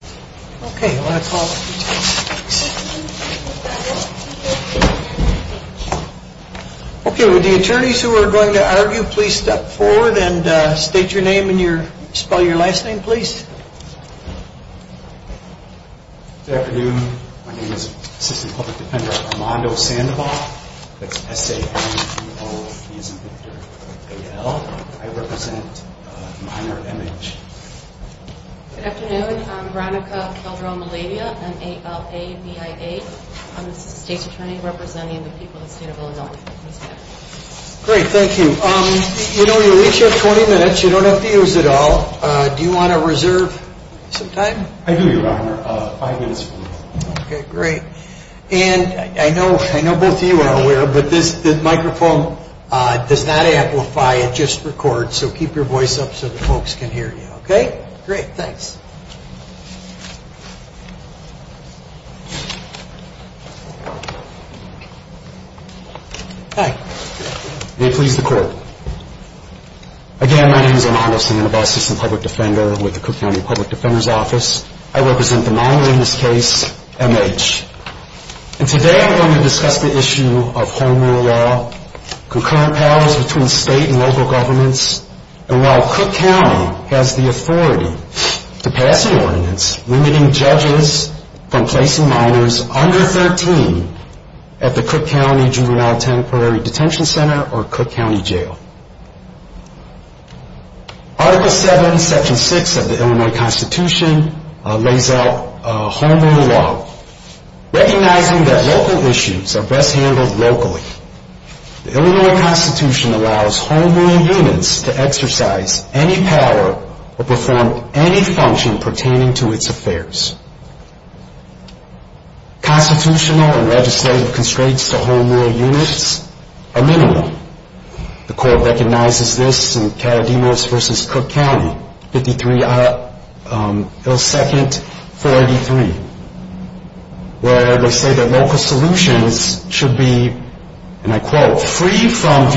Good afternoon. My name is Assistant Public Defender Armando Sandoval. I represent minor Good afternoon. I'm Veronica Calderon-Malavia. I'm an ALA BIA. I'm the state's attorney representing the people of the state of Illinois. Great. Thank you. You know, your weeks are 20 minutes. You don't have to use it all. Do you want to reserve some time? I do, Your Honor. Five minutes. Okay. Great. And I know both of you are aware, but this microphone does not amplify. It just records. So keep your voice up so the folks can hear you. Okay? Great. Thanks. Hi. May it please the Court. Again, my name is Armando Sandoval, Assistant Public Defender with the Cook County Public Defender's Office. I represent the minor in this case, M.H. And today I'm going to discuss the issue of home rule law, concurrent powers between state and local governments, and while Cook County has the authority to pass an ordinance limiting judges from placing minors under 13 at the Cook County Juvenile Temporary Detention Center or Cook County Jail. Article 7, Section 6 of the Illinois Constitution lays out home rule law, recognizing that local issues are best handled locally. The Illinois Constitution allows home rule units to exercise any power or perform any function pertaining to its affairs. Constitutional and legislative constraints to home rule units are minimal. The Court recognizes this in Karadimos v. Cook County, 53 L. 2nd, 483, where they say that local solutions should be, and I quote, One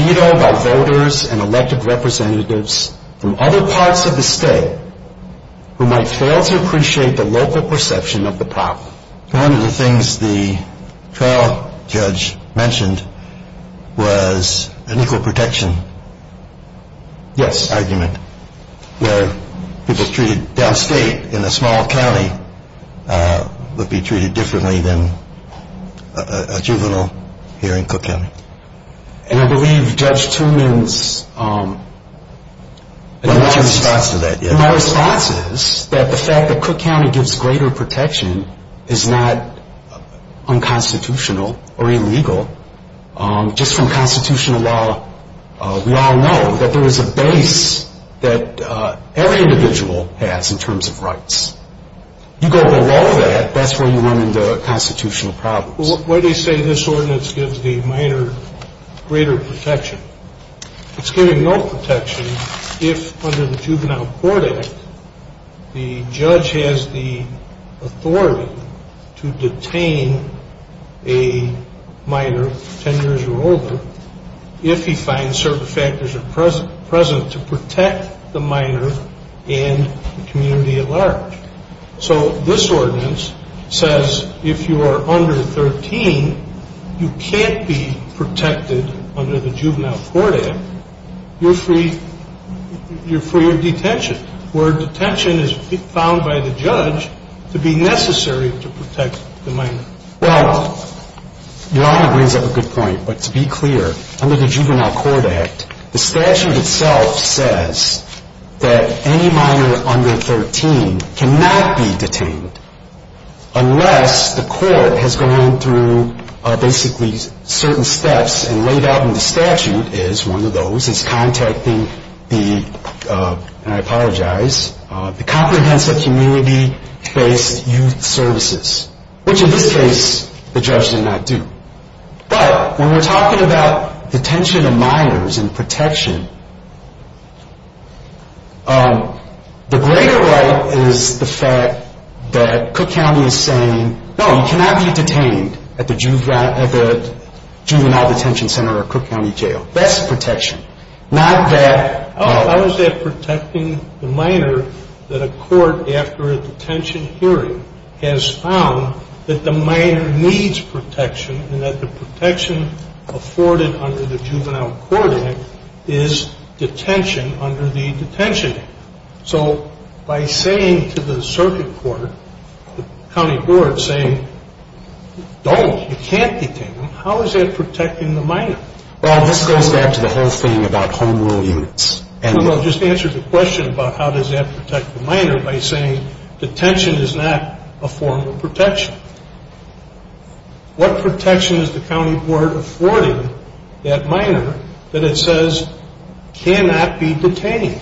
of the things the trial judge mentioned was an equal protection argument where people treated downstate in a small county would be treated differently than a juvenile here in Cook County. And I believe Judge Tuman's response is that the fact that Cook County gives greater protection is not unconstitutional or illegal. Just from constitutional law, we all know that there is a base that every individual has in terms of rights. You go below that, that's where you run into constitutional problems. Why do they say this ordinance gives the minor greater protection? It's giving no protection if under the Juvenile Court Act, the judge has the authority to detain a minor 10 years or older if he finds certain factors are present to protect the minor and the community at large. So this ordinance says if you are under 13, you can't be protected under the Juvenile Court Act. You're free of detention, where detention is found by the judge to be necessary to protect the minor. Well, your honor brings up a good point, but to be clear, under the Juvenile Court Act, the statute itself says that any minor under 13 cannot be detained unless the court has gone through basically certain steps and laid out in the statute is one of those is contacting the, and I apologize, the comprehensive community-based youth services. Which in this case, the judge did not do. But when we're talking about detention of minors and protection, the greater right is the fact that Cook County is saying, no, you cannot be detained at the Juvenile Detention Center or Cook County Jail. That's protection. How is that protecting the minor that a court after a detention hearing has found that the minor needs protection and that the protection afforded under the Juvenile Court Act is detention under the Detention Act? So by saying to the circuit court, the county board, saying, don't, you can't detain them, how is that protecting the minor? Well, this goes back to the whole thing about home rule units. Well, just answer the question about how does that protect the minor by saying detention is not a form of protection. What protection is the county board affording that minor that it says cannot be detained?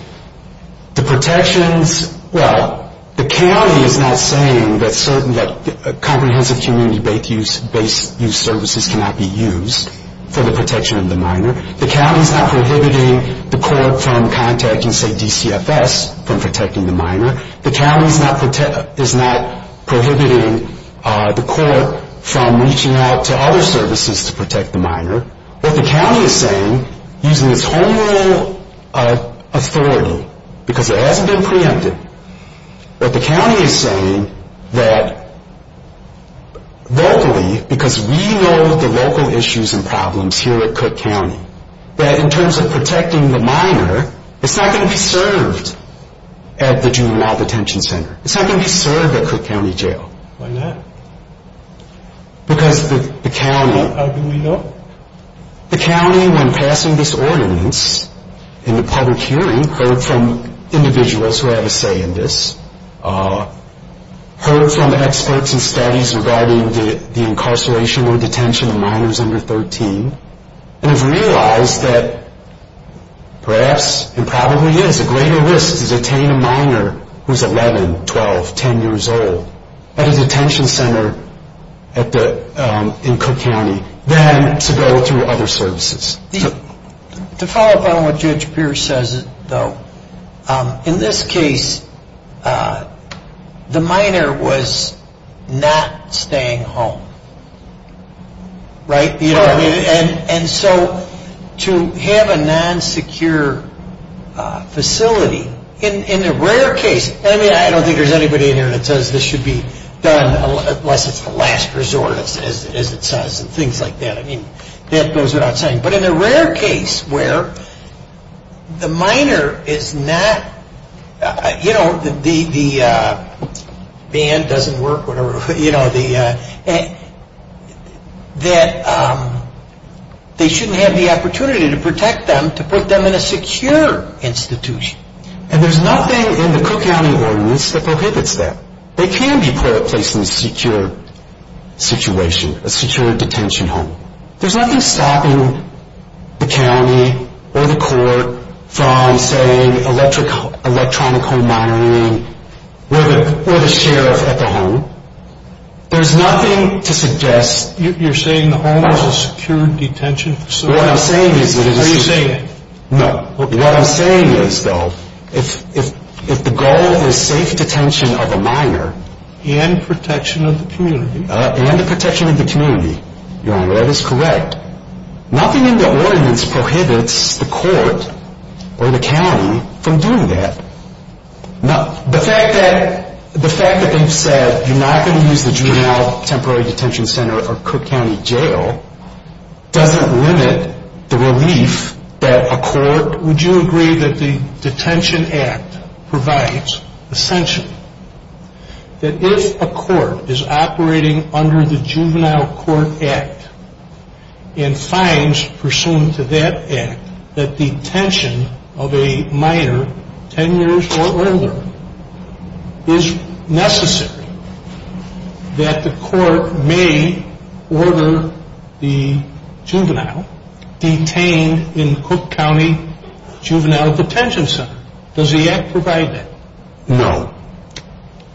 Well, the county is not saying that comprehensive community-based youth services cannot be used for the protection of the minor. The county is not prohibiting the court from contacting, say, DCFS from protecting the minor. The county is not prohibiting the court from reaching out to other services to protect the minor. What the county is saying, using its home rule authority, because it hasn't been preempted, what the county is saying that locally, because we know the local issues and problems here at Cook County, that in terms of protecting the minor, it's not going to be served at the juvenile court. It's not going to be served at Cook County Jail. Why not? Because the county... How do we know? The county, when passing this ordinance in the public hearing, heard from individuals who have a say in this, heard from experts and studies regarding the incarceration or detention of minors under 13, and have realized that perhaps, and probably is, a greater risk to detain a minor who is 11, 12, 10 years old at a detention center in Cook County than to go through other services. To follow up on what Judge Pierce says, though, in this case, the minor was not staying home, right? And there's nothing in the Cook County ordinance that prohibits that. They can be placed in a secure situation, a secure detention home. There's nothing stopping the county or the court from saying electronic home minoring or the sheriff at the home. There's nothing to suggest... You're saying the home is a secure detention facility? What I'm saying is... Are you saying... No. What I'm saying is, though, if the goal is safe detention of a minor... And protection of the community. And the protection of the community. Your Honor, that is correct. Nothing in the ordinance prohibits the court or the county from doing that. The fact that they've said you're not going to use the juvenile temporary detention center or Cook County jail doesn't limit the relief that a court... Would you agree that the Detention Act provides the sanction that if a court is operating under the Juvenile Court Act and finds pursuant to that act that detention of a minor 10 years or older is necessary, that the court may order the juvenile detained in Cook County Juvenile Detention Center? Does the act provide that? No.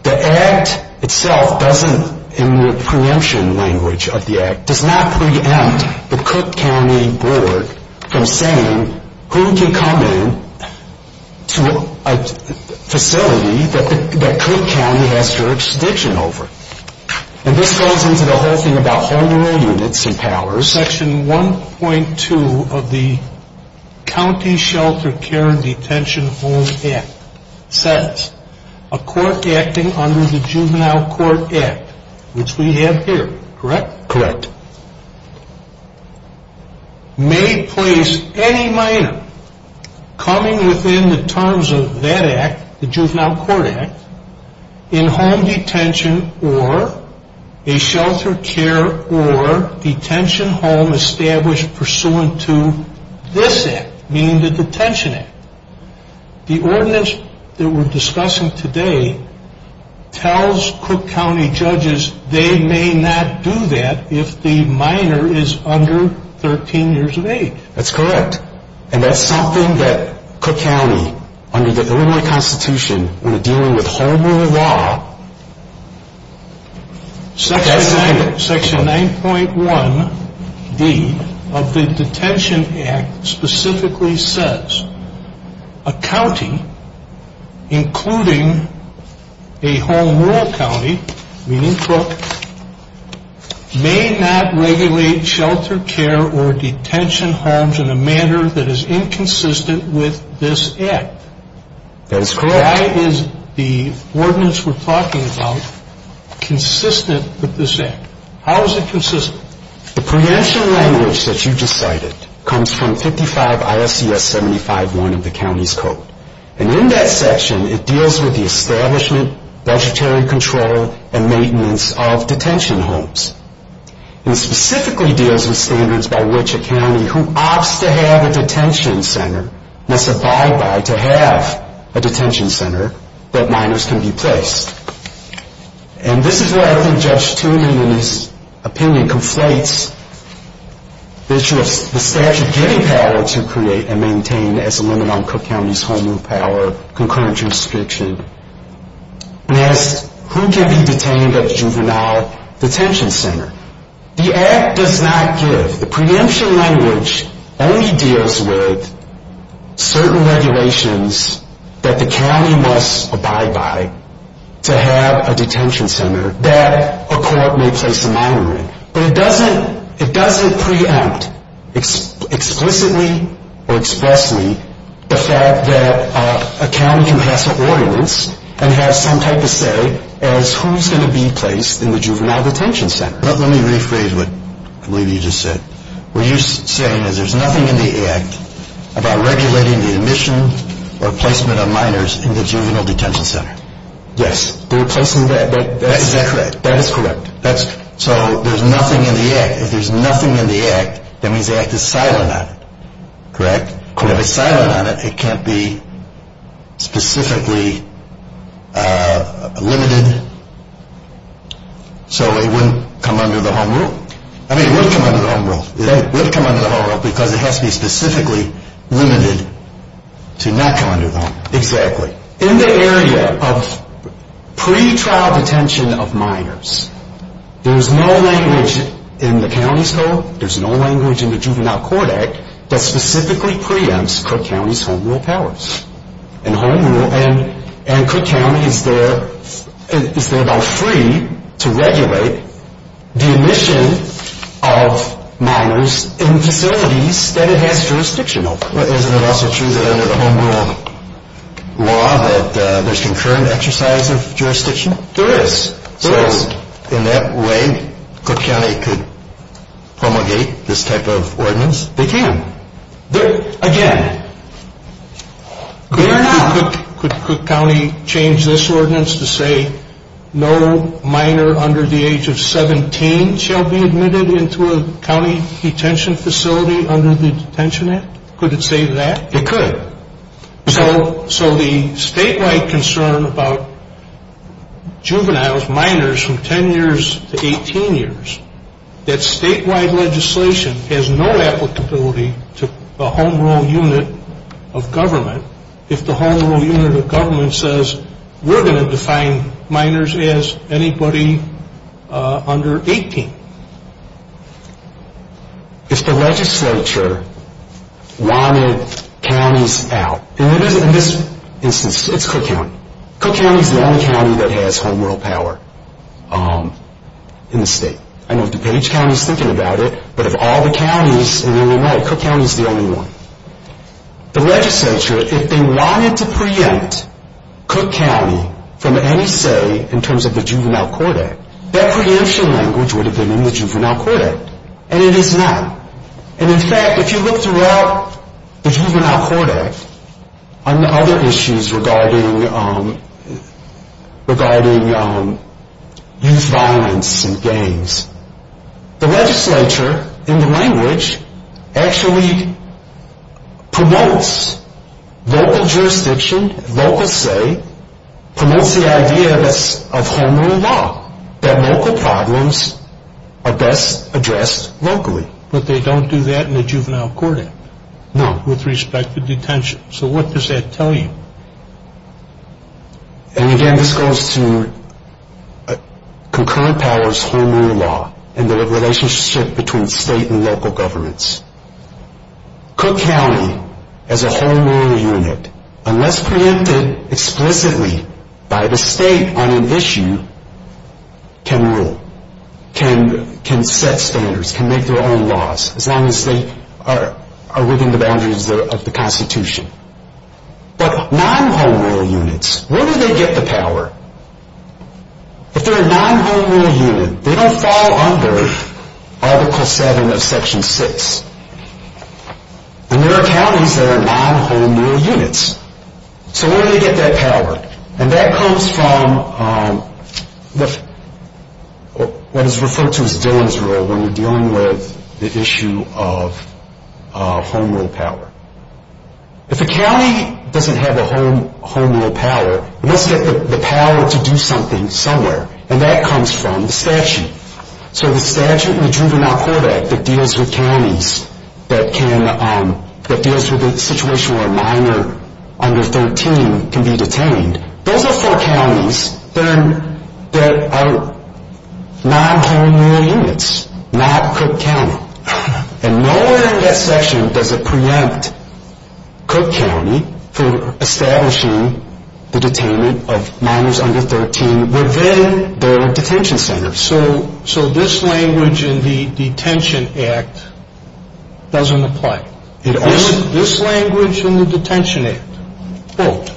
The act itself doesn't, in the preemption language of the act, does not preempt the Cook County Board from saying who can come in to a facility that Cook County has jurisdiction over. And this goes into the whole thing about hormonal units and powers. Section 1.2 of the County Shelter Care and Detention Home Act says, a court acting under the Juvenile Court Act, which we have here, correct? Correct. May place any minor coming within the terms of that act, the Juvenile Court Act, in home detention or a shelter care or detention home established pursuant to this act, meaning the Detention Act. The ordinance that we're discussing today tells Cook County judges they may not do that if the minor is under 13 years of age. That's correct. And that's something that Cook County, under the Illinois Constitution, when dealing with home rule law, Section 9.1D of the Detention Act specifically says, a county, including a home rule county, meaning Cook, may not regulate shelter care or detention homes in a manner that is inconsistent with this act. That is correct. Why is the ordinance we're talking about consistent with this act? How is it consistent? The preemption language that you just cited comes from 55 I.S.C.S. 75.1 of the county's code. And in that section, it deals with the establishment, budgetary control, and maintenance of detention homes. And it specifically deals with standards by which a county who opts to have a detention center must abide by to have a detention center that minors can be placed. And this is where I think Judge Toomey, in his opinion, conflates the issue of the statute giving power to create and maintain as a limit on Cook County's home rule power, concurrent jurisdiction, and as to who can be detained at a juvenile detention center. The act does not give. The preemption language only deals with certain regulations that the county must abide by to have a detention center that a court may place a minor in. But it doesn't preempt explicitly or expressly the fact that a county can pass an ordinance and have some type of say as who's going to be placed in the juvenile detention center. Let me rephrase what I believe you just said. What you're saying is there's nothing in the act about regulating the admission or placement of minors in the juvenile detention center. Yes, they're placing that. That is correct. So there's nothing in the act. If there's nothing in the act, that means the act is silent on it. Correct? Correct. If it's silent on it, it can't be specifically limited so it wouldn't come under the home rule. I mean, it would come under the home rule. It would come under the home rule because it has to be specifically limited to not come under the home rule. Exactly. In the area of pretrial detention of minors, there's no language in the county's code, there's no language in the Juvenile Court Act that specifically preempts Cook County's home rule powers. And Cook County is there though free to regulate the admission of minors in facilities that it has jurisdiction over. Isn't it also true that under the home rule law that there's concurrent exercise of jurisdiction? There is. So in that way, Cook County could promulgate this type of ordinance? They can. Again, they are not. Could Cook County change this ordinance to say no minor under the age of 17 shall be admitted into a county detention facility under the Detention Act? Could it say that? It could. So the statewide concern about juveniles, minors from 10 years to 18 years, that statewide legislation has no applicability to the home rule unit of government if the home rule unit of government says we're going to define minors as anybody under 18. If the legislature wanted counties out, in this instance, it's Cook County. Cook County is the only county that has home rule power in the state. I know DuPage County is thinking about it, but of all the counties in the United States, Cook County is the only one. The legislature, if they wanted to preempt Cook County from any say in terms of the Juvenile Court Act, that preemption language would have been in the Juvenile Court Act, and it is not. In fact, if you look throughout the Juvenile Court Act on other issues regarding youth violence and gangs, the legislature, in the language, actually promotes local jurisdiction, local say, promotes the idea of home rule law, that local problems are best addressed locally. But they don't do that in the Juvenile Court Act with respect to detention. So what does that tell you? And again, this goes to concurrent powers home rule law and the relationship between state and local governments. Cook County, as a home rule unit, unless preempted explicitly by the state on an issue, can rule, can set standards, can make their own laws, as long as they are within the boundaries of the Constitution. But non-home rule units, where do they get the power? If they're a non-home rule unit, they don't fall under Article 7 of Section 6. And there are counties that are non-home rule units. So where do they get that power? And that comes from what is referred to as Dillon's Rule when we're dealing with the issue of home rule power. If a county doesn't have a home rule power, let's get the power to do something somewhere. And that comes from the statute. So the statute in the Juvenile Court Act that deals with counties that can, that deals with a situation where a minor under 13 can be detained, those are four counties that are non-home rule units, not Cook County. And nowhere in that section does it preempt Cook County for establishing the detainment of minors under 13 within their detention centers. So this language in the Detention Act doesn't apply. This language in the Detention Act, quote,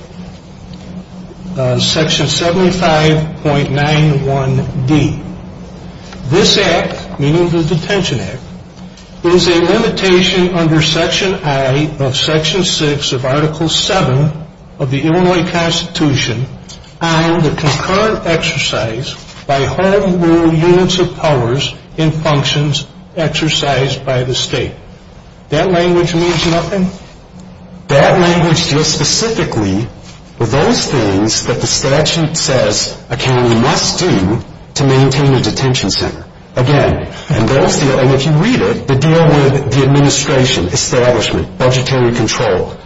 Section 75.91D, this act, meaning the Detention Act, is a limitation under Section I of Section 6 of Article 7 of the Illinois Constitution on the concurrent exercise by home rule units of powers in functions exercised by the state. That language means nothing. That language deals specifically with those things that the statute says a county must do to maintain a detention center. Again, and those deal, and if you read it, they deal with the administration, establishment, budgetary control,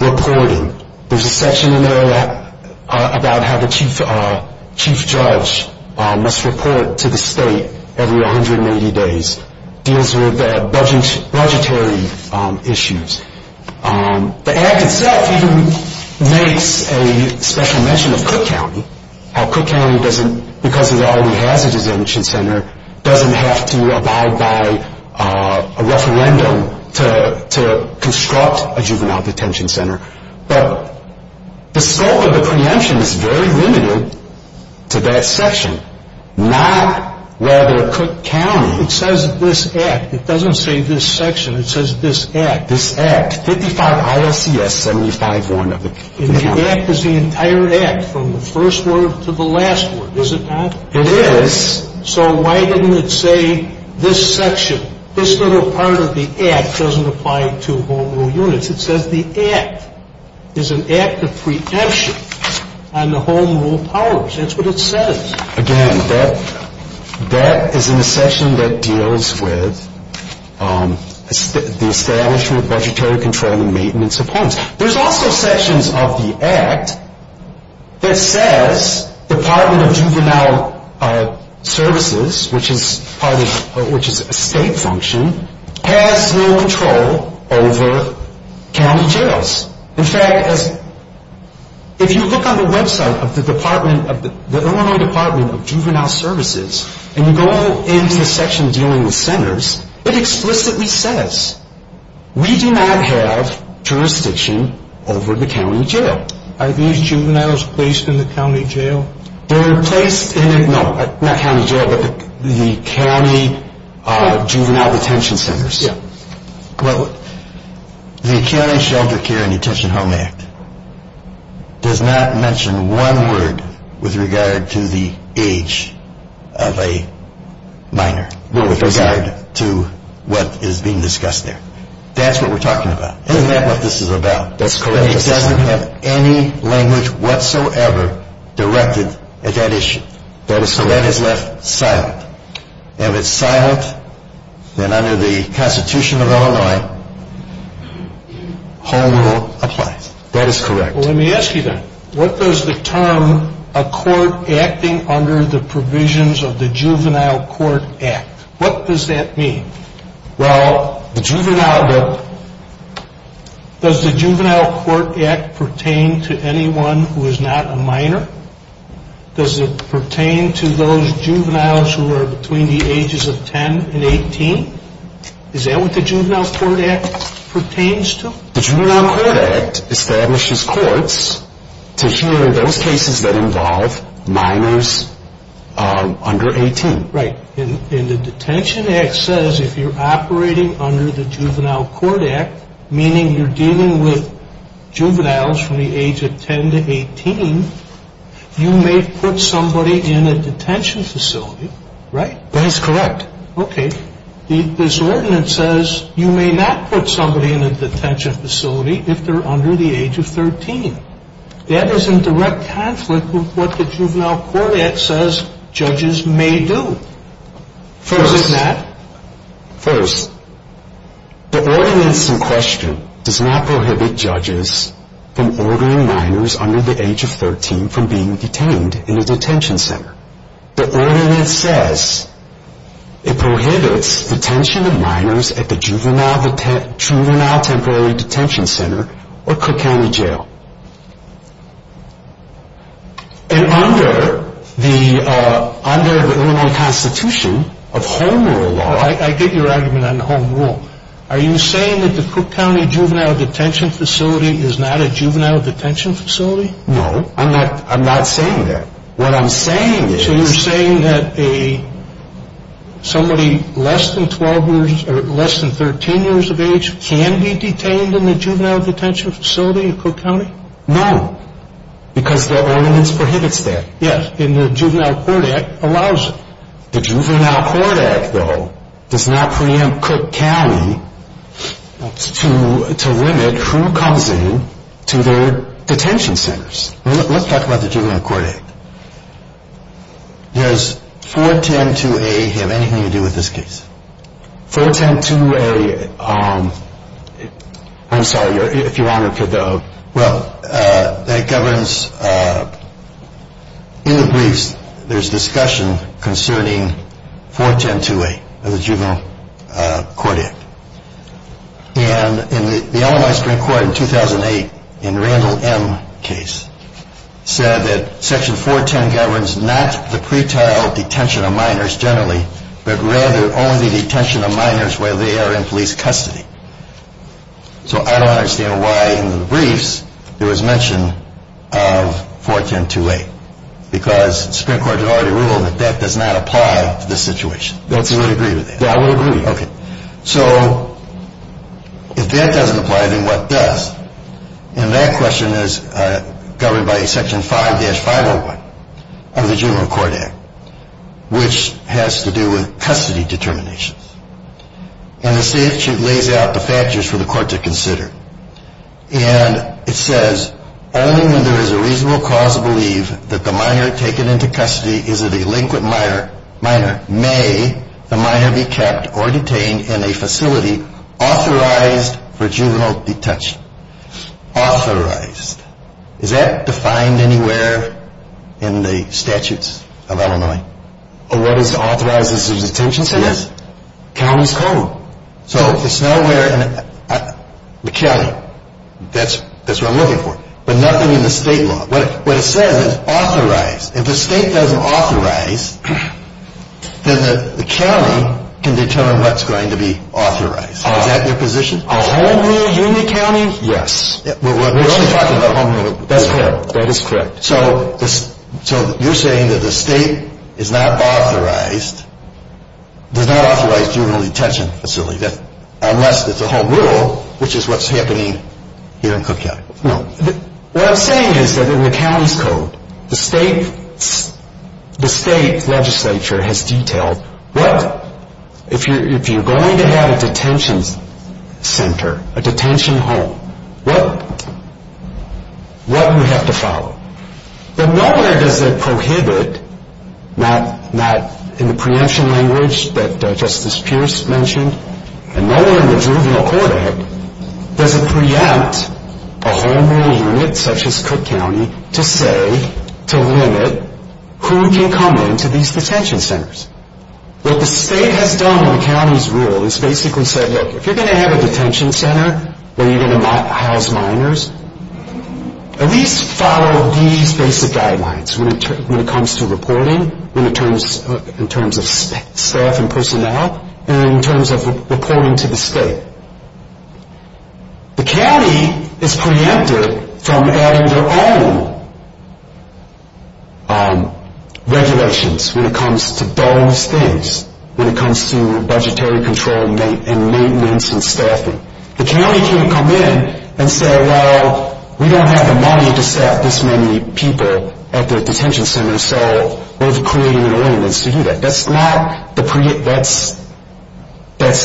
reporting. There's a section in there about how the chief judge must report to the state every 180 days. This deals with the budgetary issues. The act itself even makes a special mention of Cook County, how Cook County doesn't, because it already has a detention center, doesn't have to abide by a referendum to construct a juvenile detention center. But the scope of the preemption is very limited to that section. Not rather Cook County. It says this act. It doesn't say this section. It says this act. This act. 55 ILCS 75.1 of the county. And the act is the entire act from the first word to the last word, is it not? It is. So why didn't it say this section? This little part of the act doesn't apply to home rule units. It says the act is an act of preemption on the home rule powers. That's what it says. Again, that is in the section that deals with the establishment, budgetary control, and the maintenance of homes. There's also sections of the act that says Department of Juvenile Services, which is a state function, has no control over county jails. In fact, if you look on the website of the Illinois Department of Juvenile Services and you go into the section dealing with centers, it explicitly says, we do not have jurisdiction over the county jail. Are these juveniles placed in the county jail? They're placed in the county juvenile detention centers. The County Shelter Care and Detention Home Act does not mention one word with regard to the age of a minor with regard to what is being discussed there. That's what we're talking about. Isn't that what this is about? That's correct. It doesn't have any language whatsoever directed at that issue. So that is left silent. If it's silent, then under the Constitution of Illinois, home rule applies. That is correct. Well, let me ask you then, what does the term a court acting under the provisions of the Juvenile Court Act, what does that mean? Well, does the Juvenile Court Act pertain to anyone who is not a minor? Does it pertain to those juveniles who are between the ages of 10 and 18? Is that what the Juvenile Court Act pertains to? The Juvenile Court Act establishes courts to hear those cases that involve minors under 18. Right. And the Detention Act says if you're operating under the Juvenile Court Act, meaning you're dealing with juveniles from the age of 10 to 18, you may put somebody in a detention facility, right? That is correct. Okay. This ordinance says you may not put somebody in a detention facility if they're under the age of 13. That is in direct conflict with what the Juvenile Court Act says judges may do. First. First. The ordinance in question does not prohibit judges from ordering minors under the age of 13 from being detained in a detention center. The ordinance says it prohibits detention of minors at the Juvenile Temporary Detention Center or Cook County Jail. And under the Illinois Constitution of Home Rule law. I get your argument on the Home Rule. Are you saying that the Cook County Juvenile Detention Facility is not a juvenile detention facility? No. I'm not saying that. What I'm saying is. So you're saying that somebody less than 12 years or less than 13 years of age can be detained in the juvenile detention facility in Cook County? No. Because the ordinance prohibits that. Yes. And the Juvenile Court Act allows it. The Juvenile Court Act, though, does not preempt Cook County to limit who comes in to their detention centers. Let's talk about the Juvenile Court Act. Does 410-2A have anything to do with this case? 410-2A. I'm sorry. If you're honored to go. Well, that governs. In the briefs, there's discussion concerning 410-2A of the Juvenile Court Act. And the Illinois Supreme Court in 2008, in Randall M. case, said that Section 410 governs not the pretrial detention of minors generally, but rather only the detention of minors where they are in police custody. So I don't understand why in the briefs there was mention of 410-2A. Because the Supreme Court had already ruled that that does not apply to this situation. Don't you agree with that? Yeah, I would agree. Okay. So if that doesn't apply, then what does? And that question is governed by Section 5-501 of the Juvenile Court Act, which has to do with custody determinations. And the statute lays out the factors for the court to consider. And it says, only when there is a reasonable cause to believe that the minor taken into custody is an elinquent minor may the minor be kept or detained in a facility authorized for juvenile detention. Authorized. Is that defined anywhere in the statutes of Illinois? What is authorized as a detention center? Yes. Counties code. So it's nowhere in the county. That's what I'm looking for. But nothing in the state law. What it says is authorized. If the state doesn't authorize, then the county can determine what's going to be authorized. Is that your position? A home rule, Union County? Yes. We're only talking about home rule. That's correct. That is correct. So you're saying that the state is not authorized, does not authorize juvenile detention facilities, unless it's a home rule, which is what's happening here in Cook County. No. What I'm saying is that in the county's code, the state legislature has detailed what, if you're going to have a detention center, a detention home, what you have to follow. But nowhere does it prohibit, not in the preemption language that Justice Pierce mentioned, and nowhere in the juvenile court act does it preempt a home rule unit, such as Cook County, to say, to limit who can come into these detention centers. What the state has done in the county's rule is basically said, look, if you're going to have a detention center where you're going to house minors, at least follow these basic guidelines when it comes to reporting, in terms of staff and personnel, and in terms of reporting to the state. The county is preempted from adding their own regulations when it comes to those things, when it comes to budgetary control and maintenance and staffing. The county can't come in and say, well, we don't have the money to staff this many people at the detention center, so we're creating an ordinance to do that. That's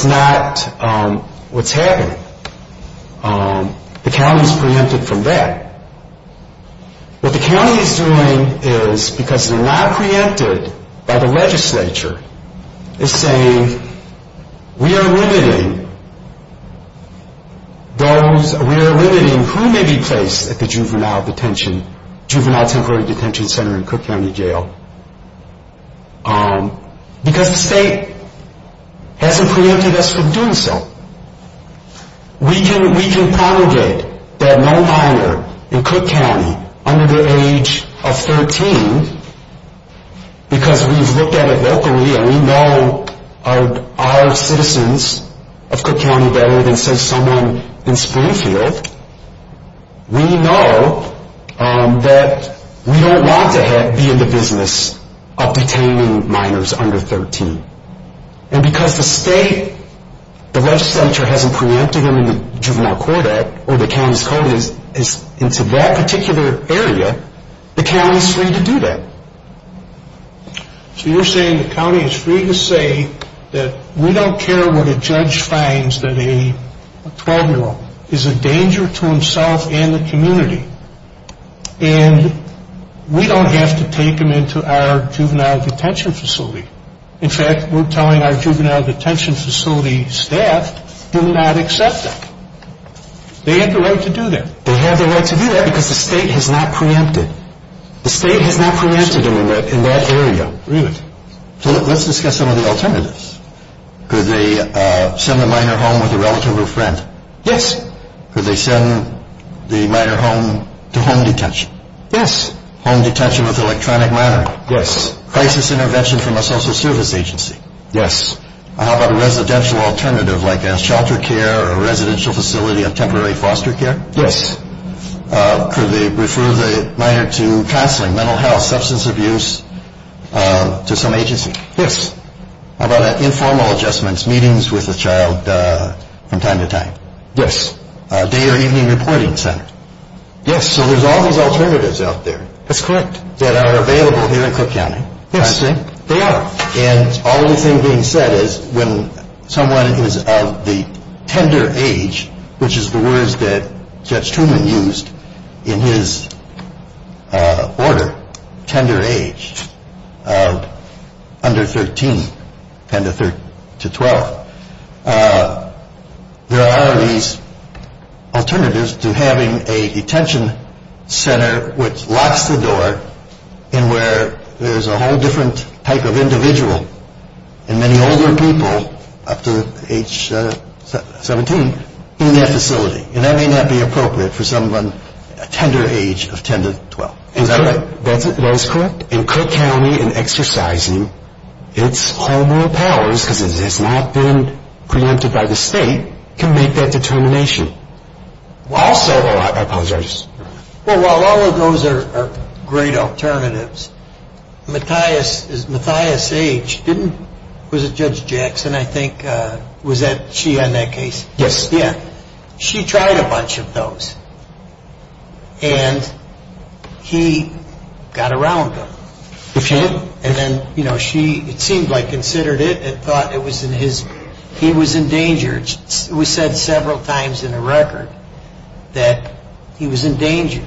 not what's happening. The county is preempted from that. What the county is doing is, because they're not preempted by the legislature, is saying we are limiting those, we are limiting who may be placed at the juvenile detention, juvenile temporary detention center in Cook County Jail, because the state hasn't preempted us from doing so. We can promulgate that no minor in Cook County under the age of 13, because we've looked at it locally and we know our citizens of Cook County better than, say, someone in Springfield. We know that we don't want to be in the business of detaining minors under 13. And because the state, the legislature hasn't preempted them in the Juvenile Court Act or the county's code into that particular area, the county is free to do that. So you're saying the county is free to say that we don't care what a judge finds, that a 12-year-old is a danger to himself and the community, and we don't have to take him into our juvenile detention facility. In fact, we're telling our juvenile detention facility staff, do not accept that. They have the right to do that. They have the right to do that because the state has not preempted. The state has not preempted them in that area. Really? So let's discuss some of the alternatives. Could they send the minor home with a relative or friend? Yes. Could they send the minor home to home detention? Yes. Home detention with electronic monitoring? Yes. Crisis intervention from a social service agency? Yes. How about a residential alternative like a shelter care or residential facility of temporary foster care? Yes. Could they refer the minor to counseling, mental health, substance abuse, to some agency? Yes. How about informal adjustments, meetings with the child from time to time? Yes. Day or evening reporting center? Yes. So there's all these alternatives out there. That's correct. That are available here in Cook County. Yes, they are. And all the things being said is when someone is of the tender age, which is the words that Judge Truman used in his order, tender age, under 13, 10 to 12, there are these alternatives to having a detention center which locks the door and where there's a whole different type of individual and many older people up to age 17 in that facility. And that may not be appropriate for someone of a tender age of 10 to 12. Is that right? That is correct. And Cook County in exercising its home rule powers, because it has not been preempted by the state, can make that determination. Also, while all of those are great alternatives, Matthias H. didn't, was it Judge Jackson, I think, was that she on that case? Yes. She tried a bunch of those and he got around them. He did? And then she, it seemed like, considered it and thought it was in his, he was in danger. It was said several times in the record that he was in danger.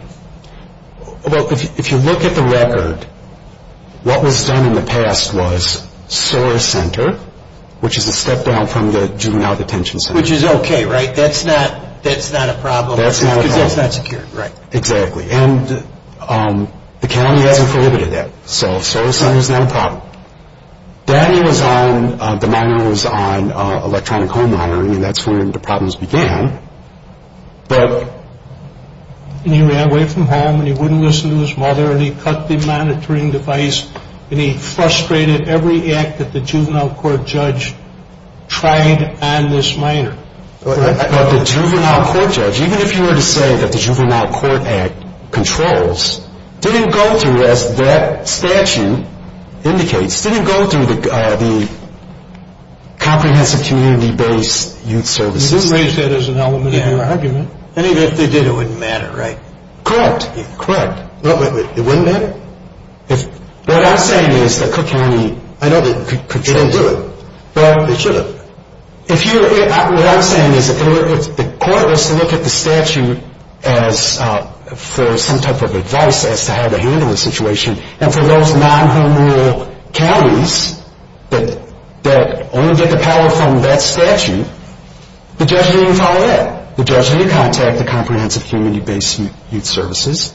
Well, if you look at the record, what was done in the past was SOAR Center, which is a step down from the Juvenile Detention Center. Which is okay, right? That's not a problem. That's not a problem. Because that's not secured, right? Exactly. And the county hasn't prohibited that. So SOAR Center is not a problem. Daniel was on, the minor was on electronic home monitoring and that's when the problems began. But he ran away from home and he wouldn't listen to his mother and he cut the monitoring device and he frustrated every act that the juvenile court judge tried on this minor. But the juvenile court judge, even if you were to say that the Juvenile Court Act controls, didn't go through, as that statute indicates, didn't go through the comprehensive community-based youth services system. You didn't raise that as an element of your argument. And even if they did, it wouldn't matter, right? Correct. Correct. It wouldn't matter? Right. What I'm saying is that Cook County, I know that it controls. They don't do it. Well. They shouldn't. If you, what I'm saying is that the court has to look at the statute as for some type of advice as to how to handle the situation. And for those non-home rule counties that only get the power from that statute, the judge wouldn't even follow that. The judge wouldn't contact the comprehensive community-based youth services.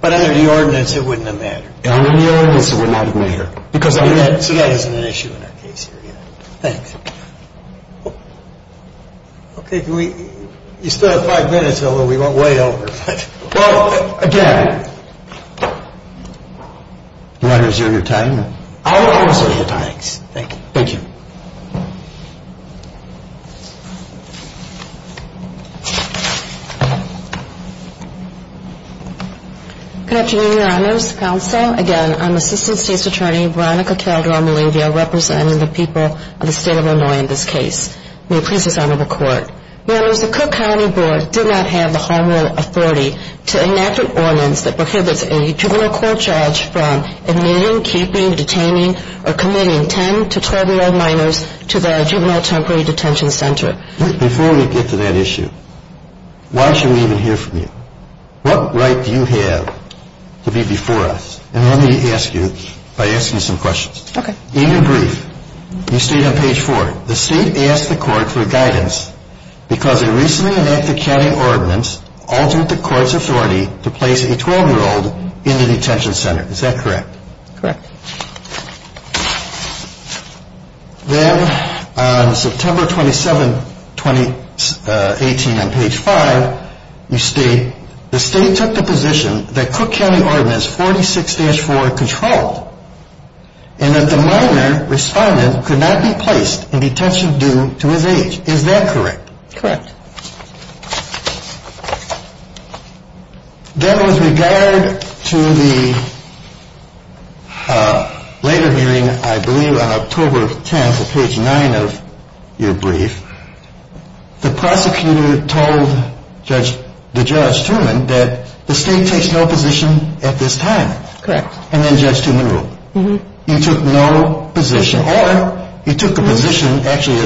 But under the ordinance, it wouldn't have mattered. Under the ordinance, it would not have mattered. That isn't an issue in our case here, either. Thanks. Okay. You still have five minutes, although we went way over. Well, again. Do you want to resume your time? I will resume your time. Thanks. Thank you. Good afternoon, Your Honors. Counsel. Again, I'm Assistant State's Attorney, Veronica Calderon-Molivio, representing the people of the State of Illinois in this case. May it please this Honorable Court. Members, the Cook County Board did not have the homework authority to enact an ordinance that prohibits a juvenile court judge from admitting, keeping, detaining, or committing 10 to 12-year-old minors to the juvenile temporary detention center. Before we get to that issue, why should we even hear from you? What right do you have to be before us? And let me ask you by asking some questions. Okay. In your brief, you state on page 4, the State asked the Court for guidance because a recently enacted county ordinance altered the Court's authority to place a 12-year-old in the detention center. Is that correct? Correct. Then, on September 27, 2018, on page 5, you state the State took the position that Cook County Ordinance 46-4 controlled and that the minor respondent could not be placed in detention due to his age. Is that correct? Correct. Then, with regard to the later hearing, I believe on October 10th, on page 9 of your brief, the prosecutor told Judge Truman that the State takes no position at this time. Correct. And then Judge Truman ruled. He took no position. Or he took a position actually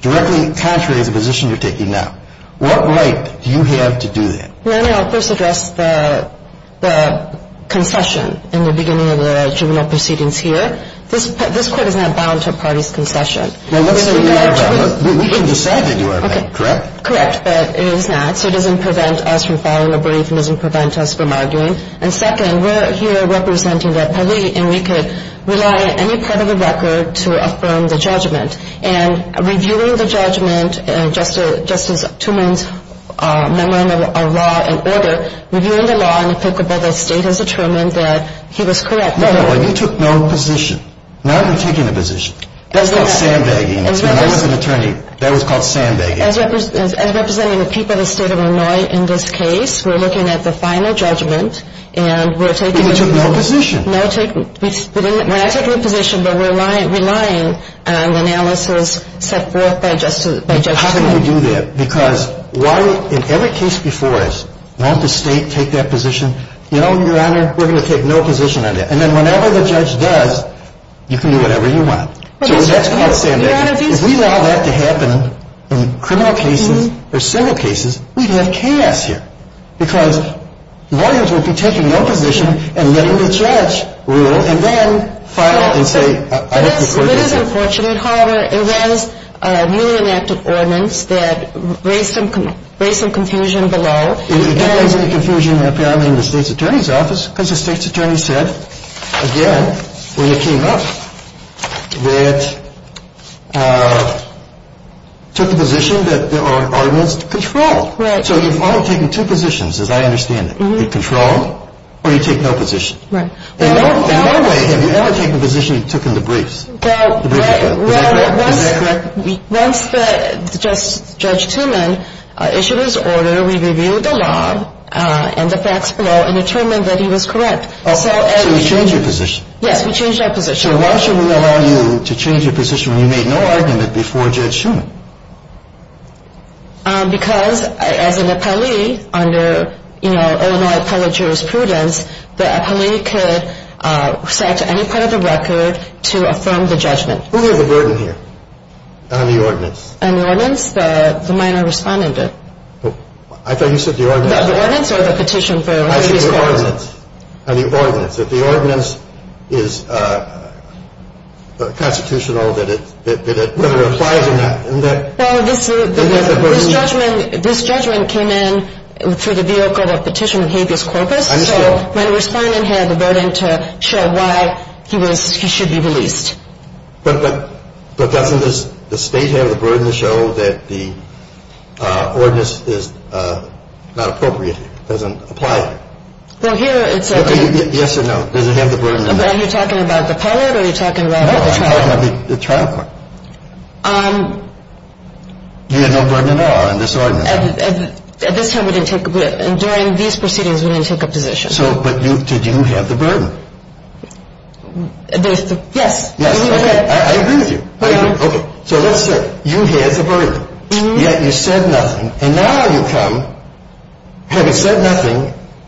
directly contrary to the position you're taking now. What right do you have to do that? Let me first address the concession in the beginning of the juvenile proceedings here. This Court is not bound to a party's concession. Well, let's say we are bound. We can decide to do our thing, correct? Correct, but it is not, so it doesn't prevent us from following a brief and doesn't prevent us from arguing. And second, we're here representing the police, and we could rely on any part of the record to affirm the judgment. And reviewing the judgment, Justice Truman's memorandum of law and order, reviewing the law and applicable, the State has determined that he was correct. No, you took no position. Now you're taking a position. That's called sandbagging. When I was an attorney, that was called sandbagging. As representing the people of the State of Illinois in this case, we're looking at the final judgment, and we're taking a position. But you took no position. We're not taking a position, but we're relying on analysis set forth by Justice Truman. How can you do that? Because why, in every case before us, won't the State take that position? You know, Your Honor, we're going to take no position on that. And then whenever the judge does, you can do whatever you want. So that's called sandbagging. If we allow that to happen in criminal cases or civil cases, we'd have chaos here because the audience would be taking no position and letting the judge rule and then file and say, I hope you're correct. It is unfortunate, however. It was a newly enacted ordinance that raised some confusion below. It didn't raise any confusion apparently in the State's Attorney's Office because the State's Attorney said, again, when it came up, that took the position that the ordinance controlled. Right. So you've only taken two positions, as I understand it. You've controlled or you take no position. Right. In no way have you ever taken a position you took in the briefs. Right. Is that correct? Is that correct? Once Judge Truman issued his order, we reviewed the law and the facts below and determined that he was correct. So you changed your position. Yes, we changed our position. So why should we allow you to change your position when you made no argument before Judge Truman? Because as an appellee under Illinois Appellate Jurisprudence, the appellee could cite any part of the record to affirm the judgment. Who has a burden here on the ordinance? On the ordinance? The minor respondent did. I thought you said the ordinance. The ordinance or the petition for habeas corpus? I said the ordinance. On the ordinance. If the ordinance is constitutional, whether it applies or not. Well, this judgment came in through the vehicle of petition of habeas corpus. So minor respondent had the burden to show why he should be released. But doesn't the state have the burden to show that the ordinance is not appropriate, doesn't apply? Well, here it's a... Yes or no? Does it have the burden or not? Are you talking about the appellate or are you talking about the trial court? No, I'm talking about the trial court. You had no burden at all on this ordinance? At this time we didn't take... During these proceedings, we didn't take a position. So, but did you have the burden? Yes. Yes, okay. I agree with you. I agree. Okay. So let's say you had the burden, yet you said nothing. And now you come, haven't said nothing,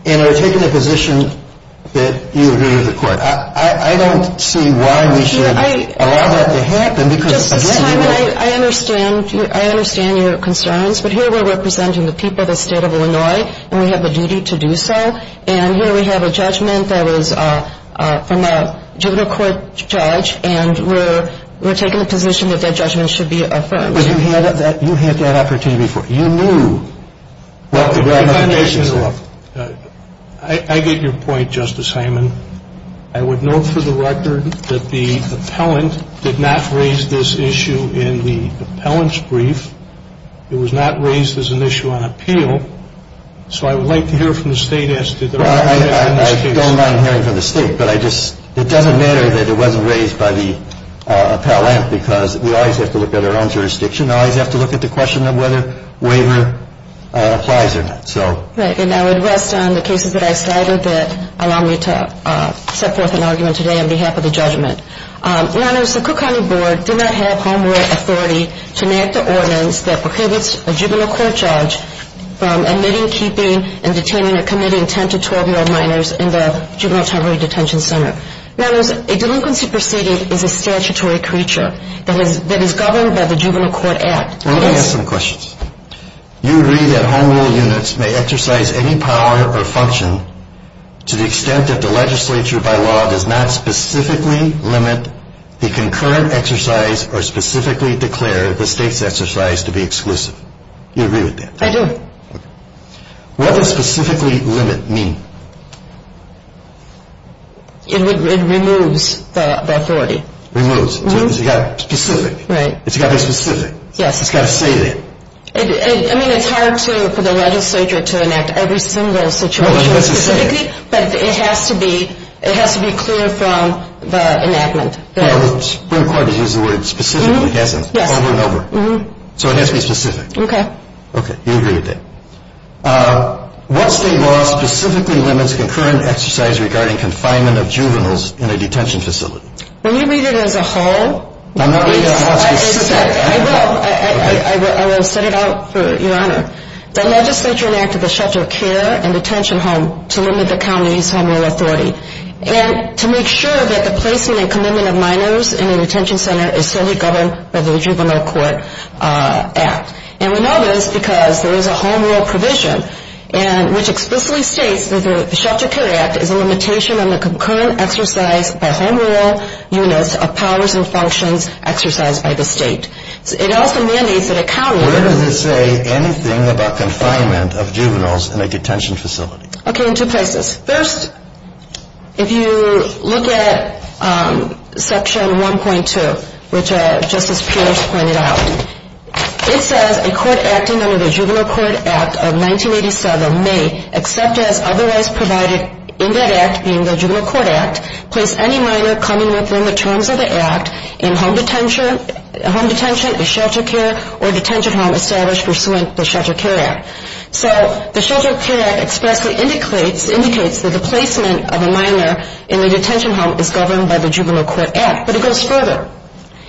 and are taking a position that you agree with the court. I don't see why we should allow that to happen because, again... Justice Hyman, I understand. I understand your concerns. But here we're representing the people of the state of Illinois, and we have a duty to do so. And here we have a judgment that was from a juvenile court judge, and we're taking a position that that judgment should be affirmed. But you had that opportunity before. You knew... I get your point, Justice Hyman. I would note for the record that the appellant did not raise this issue in the appellant's brief. It was not raised as an issue on appeal. So I would like to hear from the state as to whether we have that in this case. Well, I don't mind hearing from the state, but I just... It doesn't matter that it wasn't raised by the appellant because we always have to look at our own jurisdiction. We always have to look at the question of whether waiver applies or not. Right. And I would rest on the cases that I cited that allow me to set forth an argument today on behalf of the judgment. Your Honors, the Cook County Board did not have home rule authority to enact the ordinance that prohibits a juvenile court judge from admitting, keeping, and detaining or committing 10- to 12-year-old minors in the juvenile temporary detention center. Your Honors, a delinquency proceeding is a statutory creature that is governed by the Juvenile Court Act. Let me ask some questions. You agree that home rule units may exercise any power or function to the extent that the legislature by law does not specifically limit the concurrent exercise or specifically declare the state's exercise to be exclusive. Do you agree with that? I do. Okay. What does specifically limit mean? It removes the authority. Removes. Mm-hmm. So it's got to be specific. Right. It's got to be specific. Yes. It's got to say that. I mean, it's hard for the legislature to enact every single situation specifically. Well, it has to say it. But it has to be clear from the enactment. The Supreme Court has used the word specifically, hasn't it? Yes. Over and over. Mm-hmm. So it has to be specific. Okay. Okay. You agree with that. What state law specifically limits concurrent exercise regarding confinement of juveniles in a detention facility? Will you read it as a whole? I'm not reading it as a whole. I will. I will set it out for Your Honor. The legislature enacted the Shelter of Care and Detention Home to limit the county's home rule authority. And to make sure that the placement and commitment of minors in a detention center is solely governed by the Juvenile Court Act. And we know this because there is a home rule provision, which explicitly states that the Shelter of Care Act is a limitation on the concurrent exercise by home rule units of powers and functions exercised by the state. It also mandates that a county rule. Where does it say anything about confinement of juveniles in a detention facility? Okay. In two places. First, if you look at Section 1.2, which Justice Pierce pointed out, it says a court acting under the Juvenile Court Act of 1987 may, except as otherwise provided in that act being the Juvenile Court Act, place any minor coming within the terms of the act in home detention, shelter care, or detention home established pursuant to the Shelter of Care Act. So the Shelter of Care Act expressly indicates that the placement of a minor in a detention home is governed by the Juvenile Court Act. But it goes further.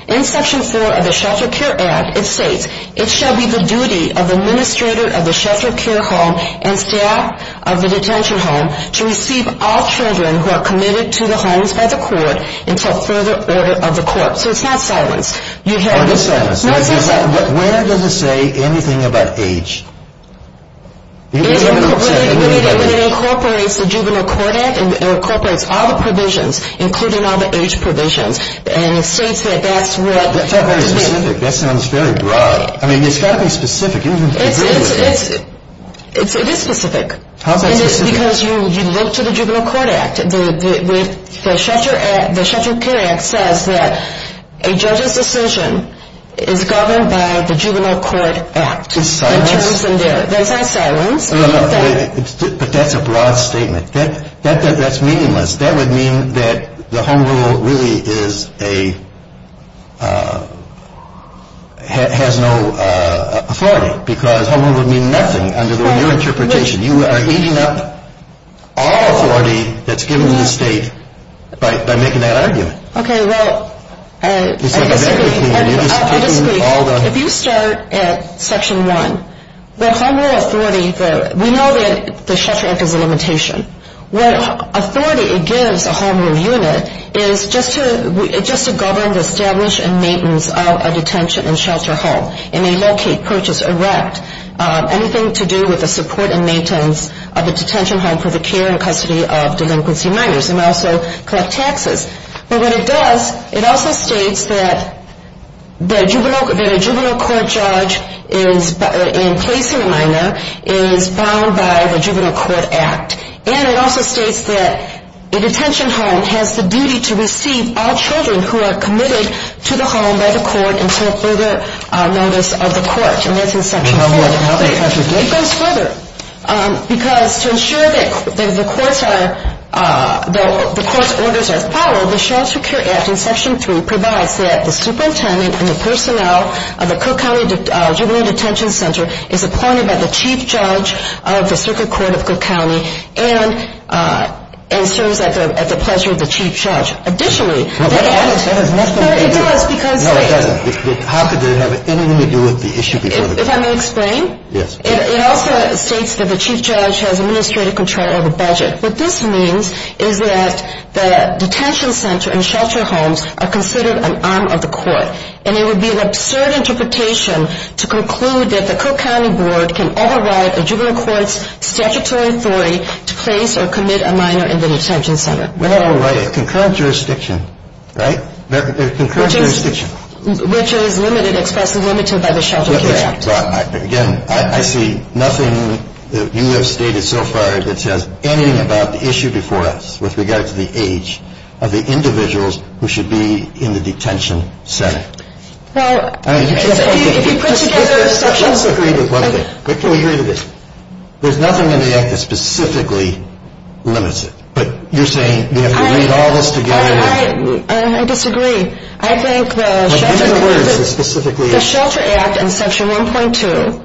In Section 4 of the Shelter of Care Act, it states, it shall be the duty of the administrator of the shelter of care home and staff of the detention home to receive all children who are committed to the homes by the court until further order of the court. So it's not silence. Oh, it is silence. No, it's not silence. Where does it say anything about age? It incorporates the Juvenile Court Act, and it incorporates all the provisions, including all the age provisions, and it states that that's what. That's not very specific. That sounds very broad. I mean, it's got to be specific. It is specific. How specific? Because you look to the Juvenile Court Act. The Shelter of Care Act says that a judge's decision is governed by the Juvenile Court Act. It's silence. It's not silence. But that's a broad statement. That's meaningless. That would mean that the home rule really has no authority, because home rule would mean nothing under your interpretation. You are eating up all authority that's given to the state by making that argument. Okay, well, I disagree. I disagree. If you start at Section 1, the home rule authority, we know that the shelter act is a limitation. What authority it gives a home rule unit is just to govern the establish and maintenance of a detention and shelter home. It may locate, purchase, erect, anything to do with the support and maintenance of a detention home for the care and custody of delinquency minors. It may also collect taxes. But what it does, it also states that the juvenile court judge in placing a minor is bound by the Juvenile Court Act. And it also states that a detention home has the duty to receive all children who are committed to the home by the court until further notice of the court. And that's in Section 4. It goes further, because to ensure that the court's orders are followed, the shelter care act in Section 3 provides that the superintendent and the personnel of the Cook County Juvenile Detention Center is appointed by the chief judge of the circuit court of Cook County and serves at the pleasure of the chief judge. Additionally, they add- No, that has nothing to do- No, it does, because- No, it doesn't. How could they have anything to do with the issue before the court? If I may explain? Yes. It also states that the chief judge has administrative control of the budget. What this means is that the detention center and shelter homes are considered an arm of the court. And it would be an absurd interpretation to conclude that the Cook County Board can override a juvenile court's statutory authority to place or commit a minor in the detention center. Well, right. A concurrent jurisdiction, right? A concurrent jurisdiction. Which is limited, expressly limited, by the shelter care act. Again, I see nothing that you have stated so far that says anything about the issue before us with regard to the age of the individuals who should be in the detention center. Well, if you put together a section- Let's agree to one thing. What can we agree to? There's nothing in the act that specifically limits it. But you're saying we have to read all this together- I disagree. I think the shelter- But give me the words that specifically- The shelter act in section 1.2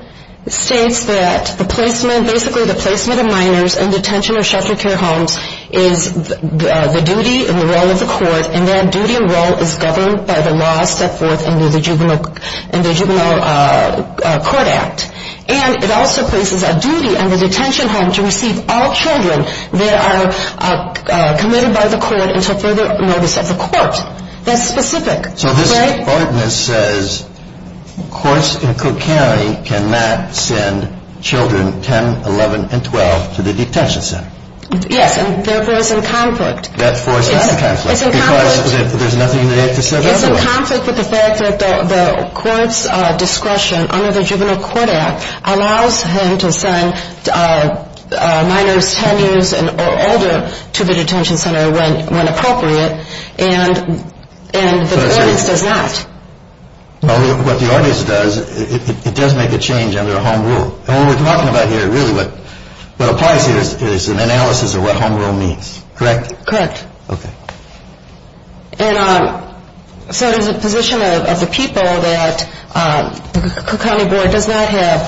states that the placement, basically the placement of minors in detention or shelter care homes is the duty and the role of the court. And that duty and role is governed by the laws set forth in the juvenile court act. And it also places a duty on the detention home to receive all children that are committed by the court until further notice of the court. That's specific, right? The ordinance says courts in Cook County cannot send children 10, 11, and 12 to the detention center. Yes, and therefore it's in conflict. Therefore it's in conflict. It's in conflict. Because there's nothing in the act that says otherwise. It's in conflict with the fact that the court's discretion under the juvenile court act allows him to send minors 10 years or older to the detention center when appropriate. And the ordinance does not. What the ordinance does, it does make a change under the home rule. And what we're talking about here really what applies here is an analysis of what home rule means. Correct? Correct. Okay. And so there's a position of the people that the Cook County Board does not have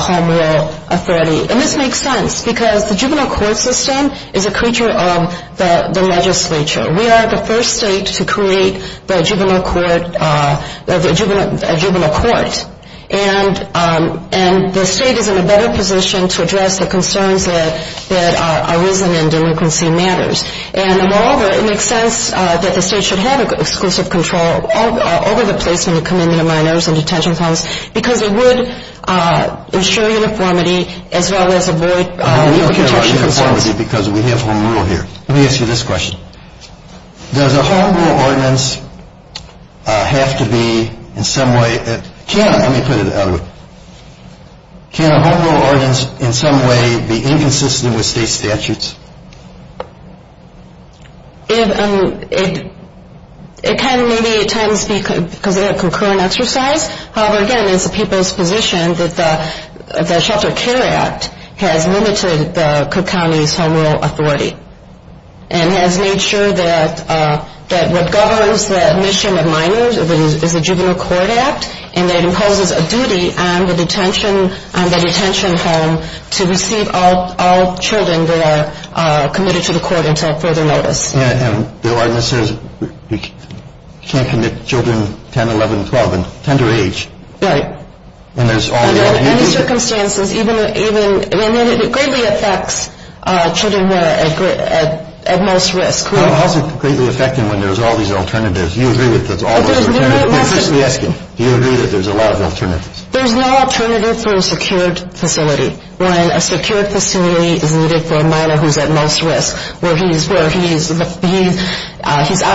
home rule authority. And this makes sense because the juvenile court system is a creature of the legislature. We are the first state to create a juvenile court. And the state is in a better position to address the concerns that are risen in delinquency matters. And, moreover, it makes sense that the state should have exclusive control over the placement of commended minors in detention homes because it would ensure uniformity as well as avoid We don't care about uniformity because we have home rule here. Let me ask you this question. Does a home rule ordinance have to be in some way, can, let me put it that way. Can a home rule ordinance in some way be inconsistent with state statutes? It can maybe at times because of a concurrent exercise. However, again, it's the people's position that the Shelter Care Act has limited the Cook County's home rule authority and has made sure that what governs the admission of minors is the Juvenile Court Act and that it imposes a duty on the detention home to receive all children that are committed to the court until further notice. And the ordinance says you can't commit children 10, 11, 12 and under age. Right. And there's all these other things. Under any circumstances, even, I mean, it greatly affects children who are at most risk. How is it greatly affecting when there's all these alternatives? Do you agree that there's a lot of alternatives? There's no alternative for a secured facility when a secured facility is needed for a minor who's at most risk where he's out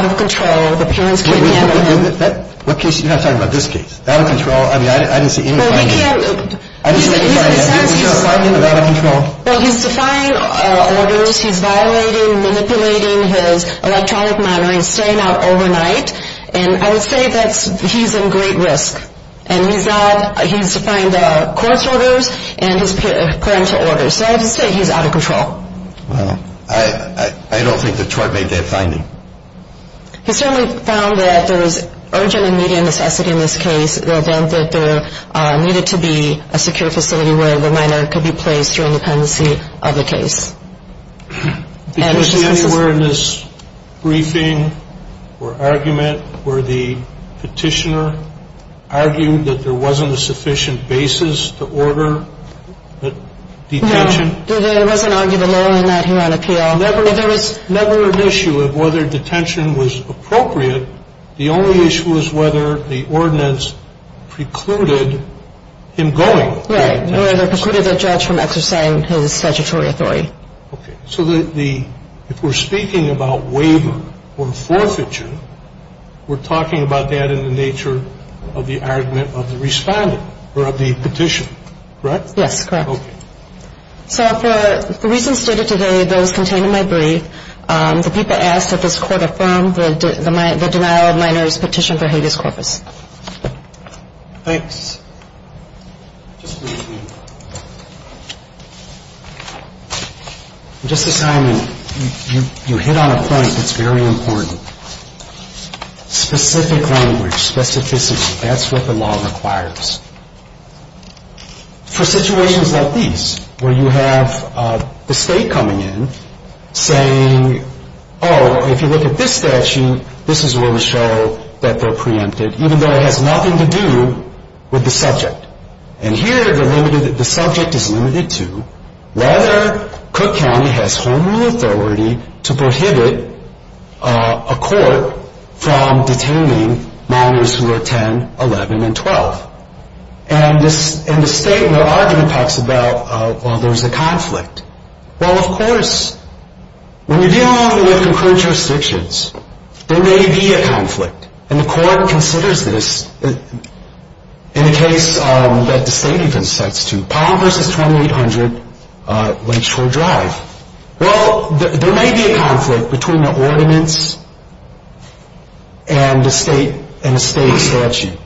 of control, the parents can't handle him. You're not talking about this case? Out of control? I mean, I didn't see any findings. Well, he's defying orders. He's violating, manipulating his electronic monitoring, staying out overnight. And I would say that he's in great risk. And he's defying the court's orders and his parental orders. So I have to say he's out of control. Well, I don't think the court made that finding. He certainly found that there was urgent and immediate necessity in this case, the event that there needed to be a secure facility where the minor could be placed through independency of the case. Did you see anywhere in this briefing or argument where the petitioner argued that there wasn't a sufficient basis to order the detention? There was an argument in that here on appeal. There was never an issue of whether detention was appropriate. The only issue was whether the ordinance precluded him going. Right. It precluded the judge from exercising his statutory authority. Okay. So if we're speaking about waiver or forfeiture, we're talking about that in the nature of the argument of the respondent or of the petition, correct? Yes, correct. Okay. So for the reasons stated today, those contained in my brief, the people asked that this court affirm the denial of minor's petition for habeas corpus. Thanks. Justice Hyman, you hit on a point that's very important. Specific language, specificity, that's what the law requires. For situations like these where you have the state coming in saying, oh, if you look at this statute, this is where we show that they're preempted, even though it has nothing to do with the subject. And here the subject is limited to whether Cook County has home rule authority to prohibit a court from detaining minors who are 10, 11, and 12. And the state in their argument talks about, well, there's a conflict. Well, of course. When you're dealing with concurrent jurisdictions, there may be a conflict. And the court considers this in a case that the state even sets to, Palm versus 2800 Lakeshore Drive. Well, there may be a conflict between the ordinance and the state statute.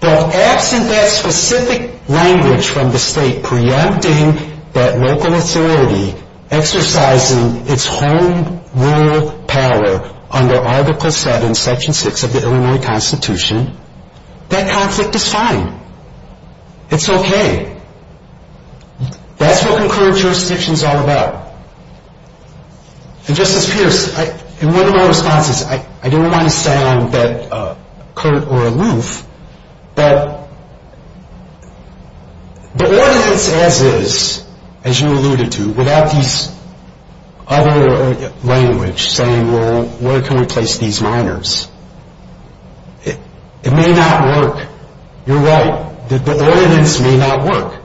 But absent that specific language from the state preempting that local authority exercising its home rule power under Article 7, Section 6 of the Illinois Constitution, that conflict is fine. It's okay. That's what concurrent jurisdiction is all about. And, Justice Pierce, in one of my responses, I didn't want to sound curt or aloof, but the ordinance as is, as you alluded to, without these other language saying, well, where can we place these minors, it may not work. You're right. The ordinance may not work.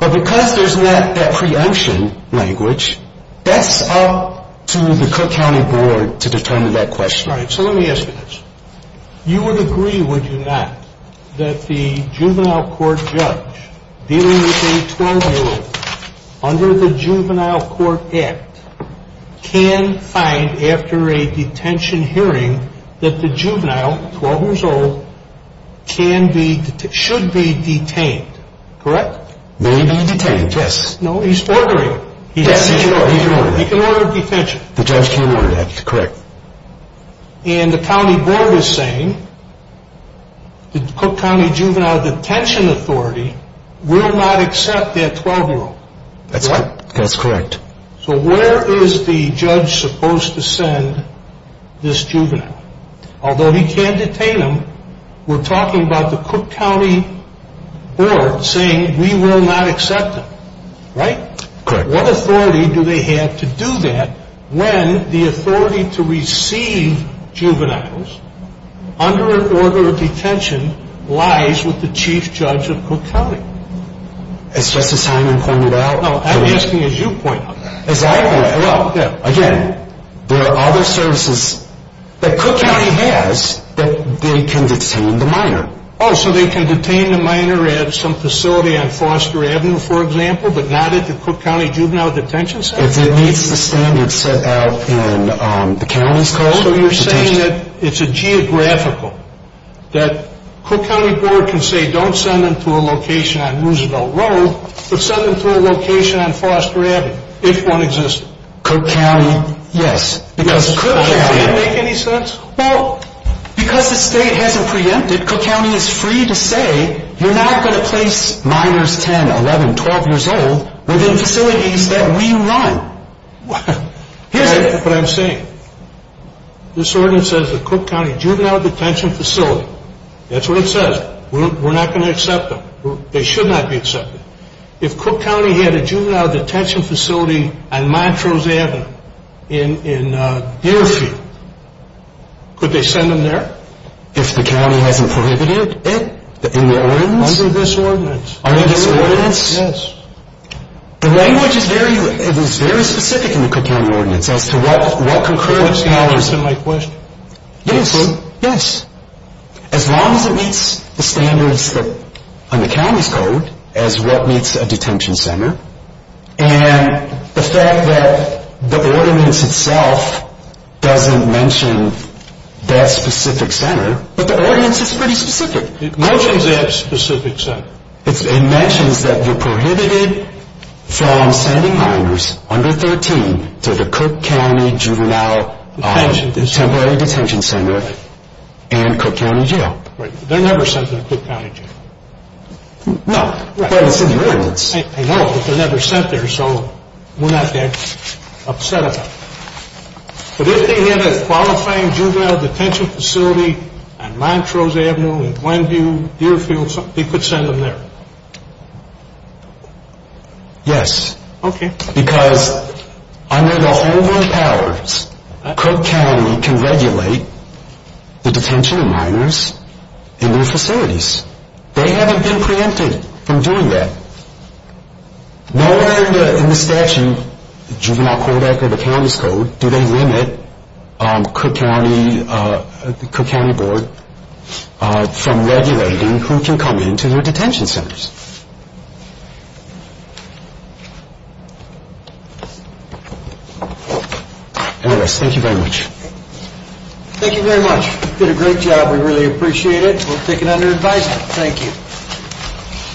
But because there's not that preemption language, that's up to the Cook County Board to determine that question. All right. So let me ask you this. You would agree, would you not, that the juvenile court judge dealing with a 12-year-old under the Juvenile Court Act can find after a detention hearing that the juvenile, 12 years old, should be detained, correct? May be detained, yes. No, he's ordering it. Yes, he's ordering it. He can order detention. The judge can order that, correct. And the county board is saying the Cook County Juvenile Detention Authority will not accept that 12-year-old. That's correct. So where is the judge supposed to send this juvenile? Although he can't detain them, we're talking about the Cook County Board saying we will not accept them, right? Correct. What authority do they have to do that when the authority to receive juveniles under an order of detention lies with the chief judge of Cook County? As Justice Hyman pointed out. No, I'm asking as you pointed out. As I pointed out. Again, there are other services that Cook County has that they can detain the minor. Oh, so they can detain the minor at some facility on Foster Avenue, for example, but not at the Cook County Juvenile Detention Center? It meets the standards set out in the county's code. So you're saying that it's a geographical, that Cook County Board can say don't send them to a location on Roosevelt Road, but send them to a location on Foster Avenue, if one exists? Cook County, yes. Does that make any sense? Well, because the state hasn't preempted, Cook County is free to say you're not going to place minors 10, 11, 12 years old within facilities that we run. Here's what I'm saying. This ordinance says the Cook County Juvenile Detention Facility, that's what it says. We're not going to accept them. They should not be accepted. If Cook County had a juvenile detention facility on Montrose Avenue in Deerfield, could they send them there? If the county hasn't prohibited it? In the ordinance? Under this ordinance. Under this ordinance? Yes. The language is very specific in the Cook County ordinance as to what concurrence counts. Does that answer my question? Yes. Yes. As long as it meets the standards on the county's code as what meets a detention center, and the fact that the ordinance itself doesn't mention that specific center, but the ordinance is pretty specific. It mentions that specific center. It mentions that you're prohibited from sending minors under 13 to the Cook County Juvenile Temporary Detention Center and Cook County Jail. They're never sent to the Cook County Jail. No, but it's in the ordinance. I know, but they're never sent there, so we're not that upset about it. But if they had a qualifying juvenile detention facility on Montrose Avenue in Glenview, Deerfield, they could send them there. Yes. Okay. Because under the Holborn powers, Cook County can regulate the detention of minors in their facilities. They haven't been preempted from doing that. Nowhere in the statute, the Juvenile Code Act or the county's code, do they limit Cook County Board from regulating who can come into their detention centers? Anyways, thank you very much. Thank you very much. You did a great job. We really appreciate it. We'll take it under advisement. Thank you.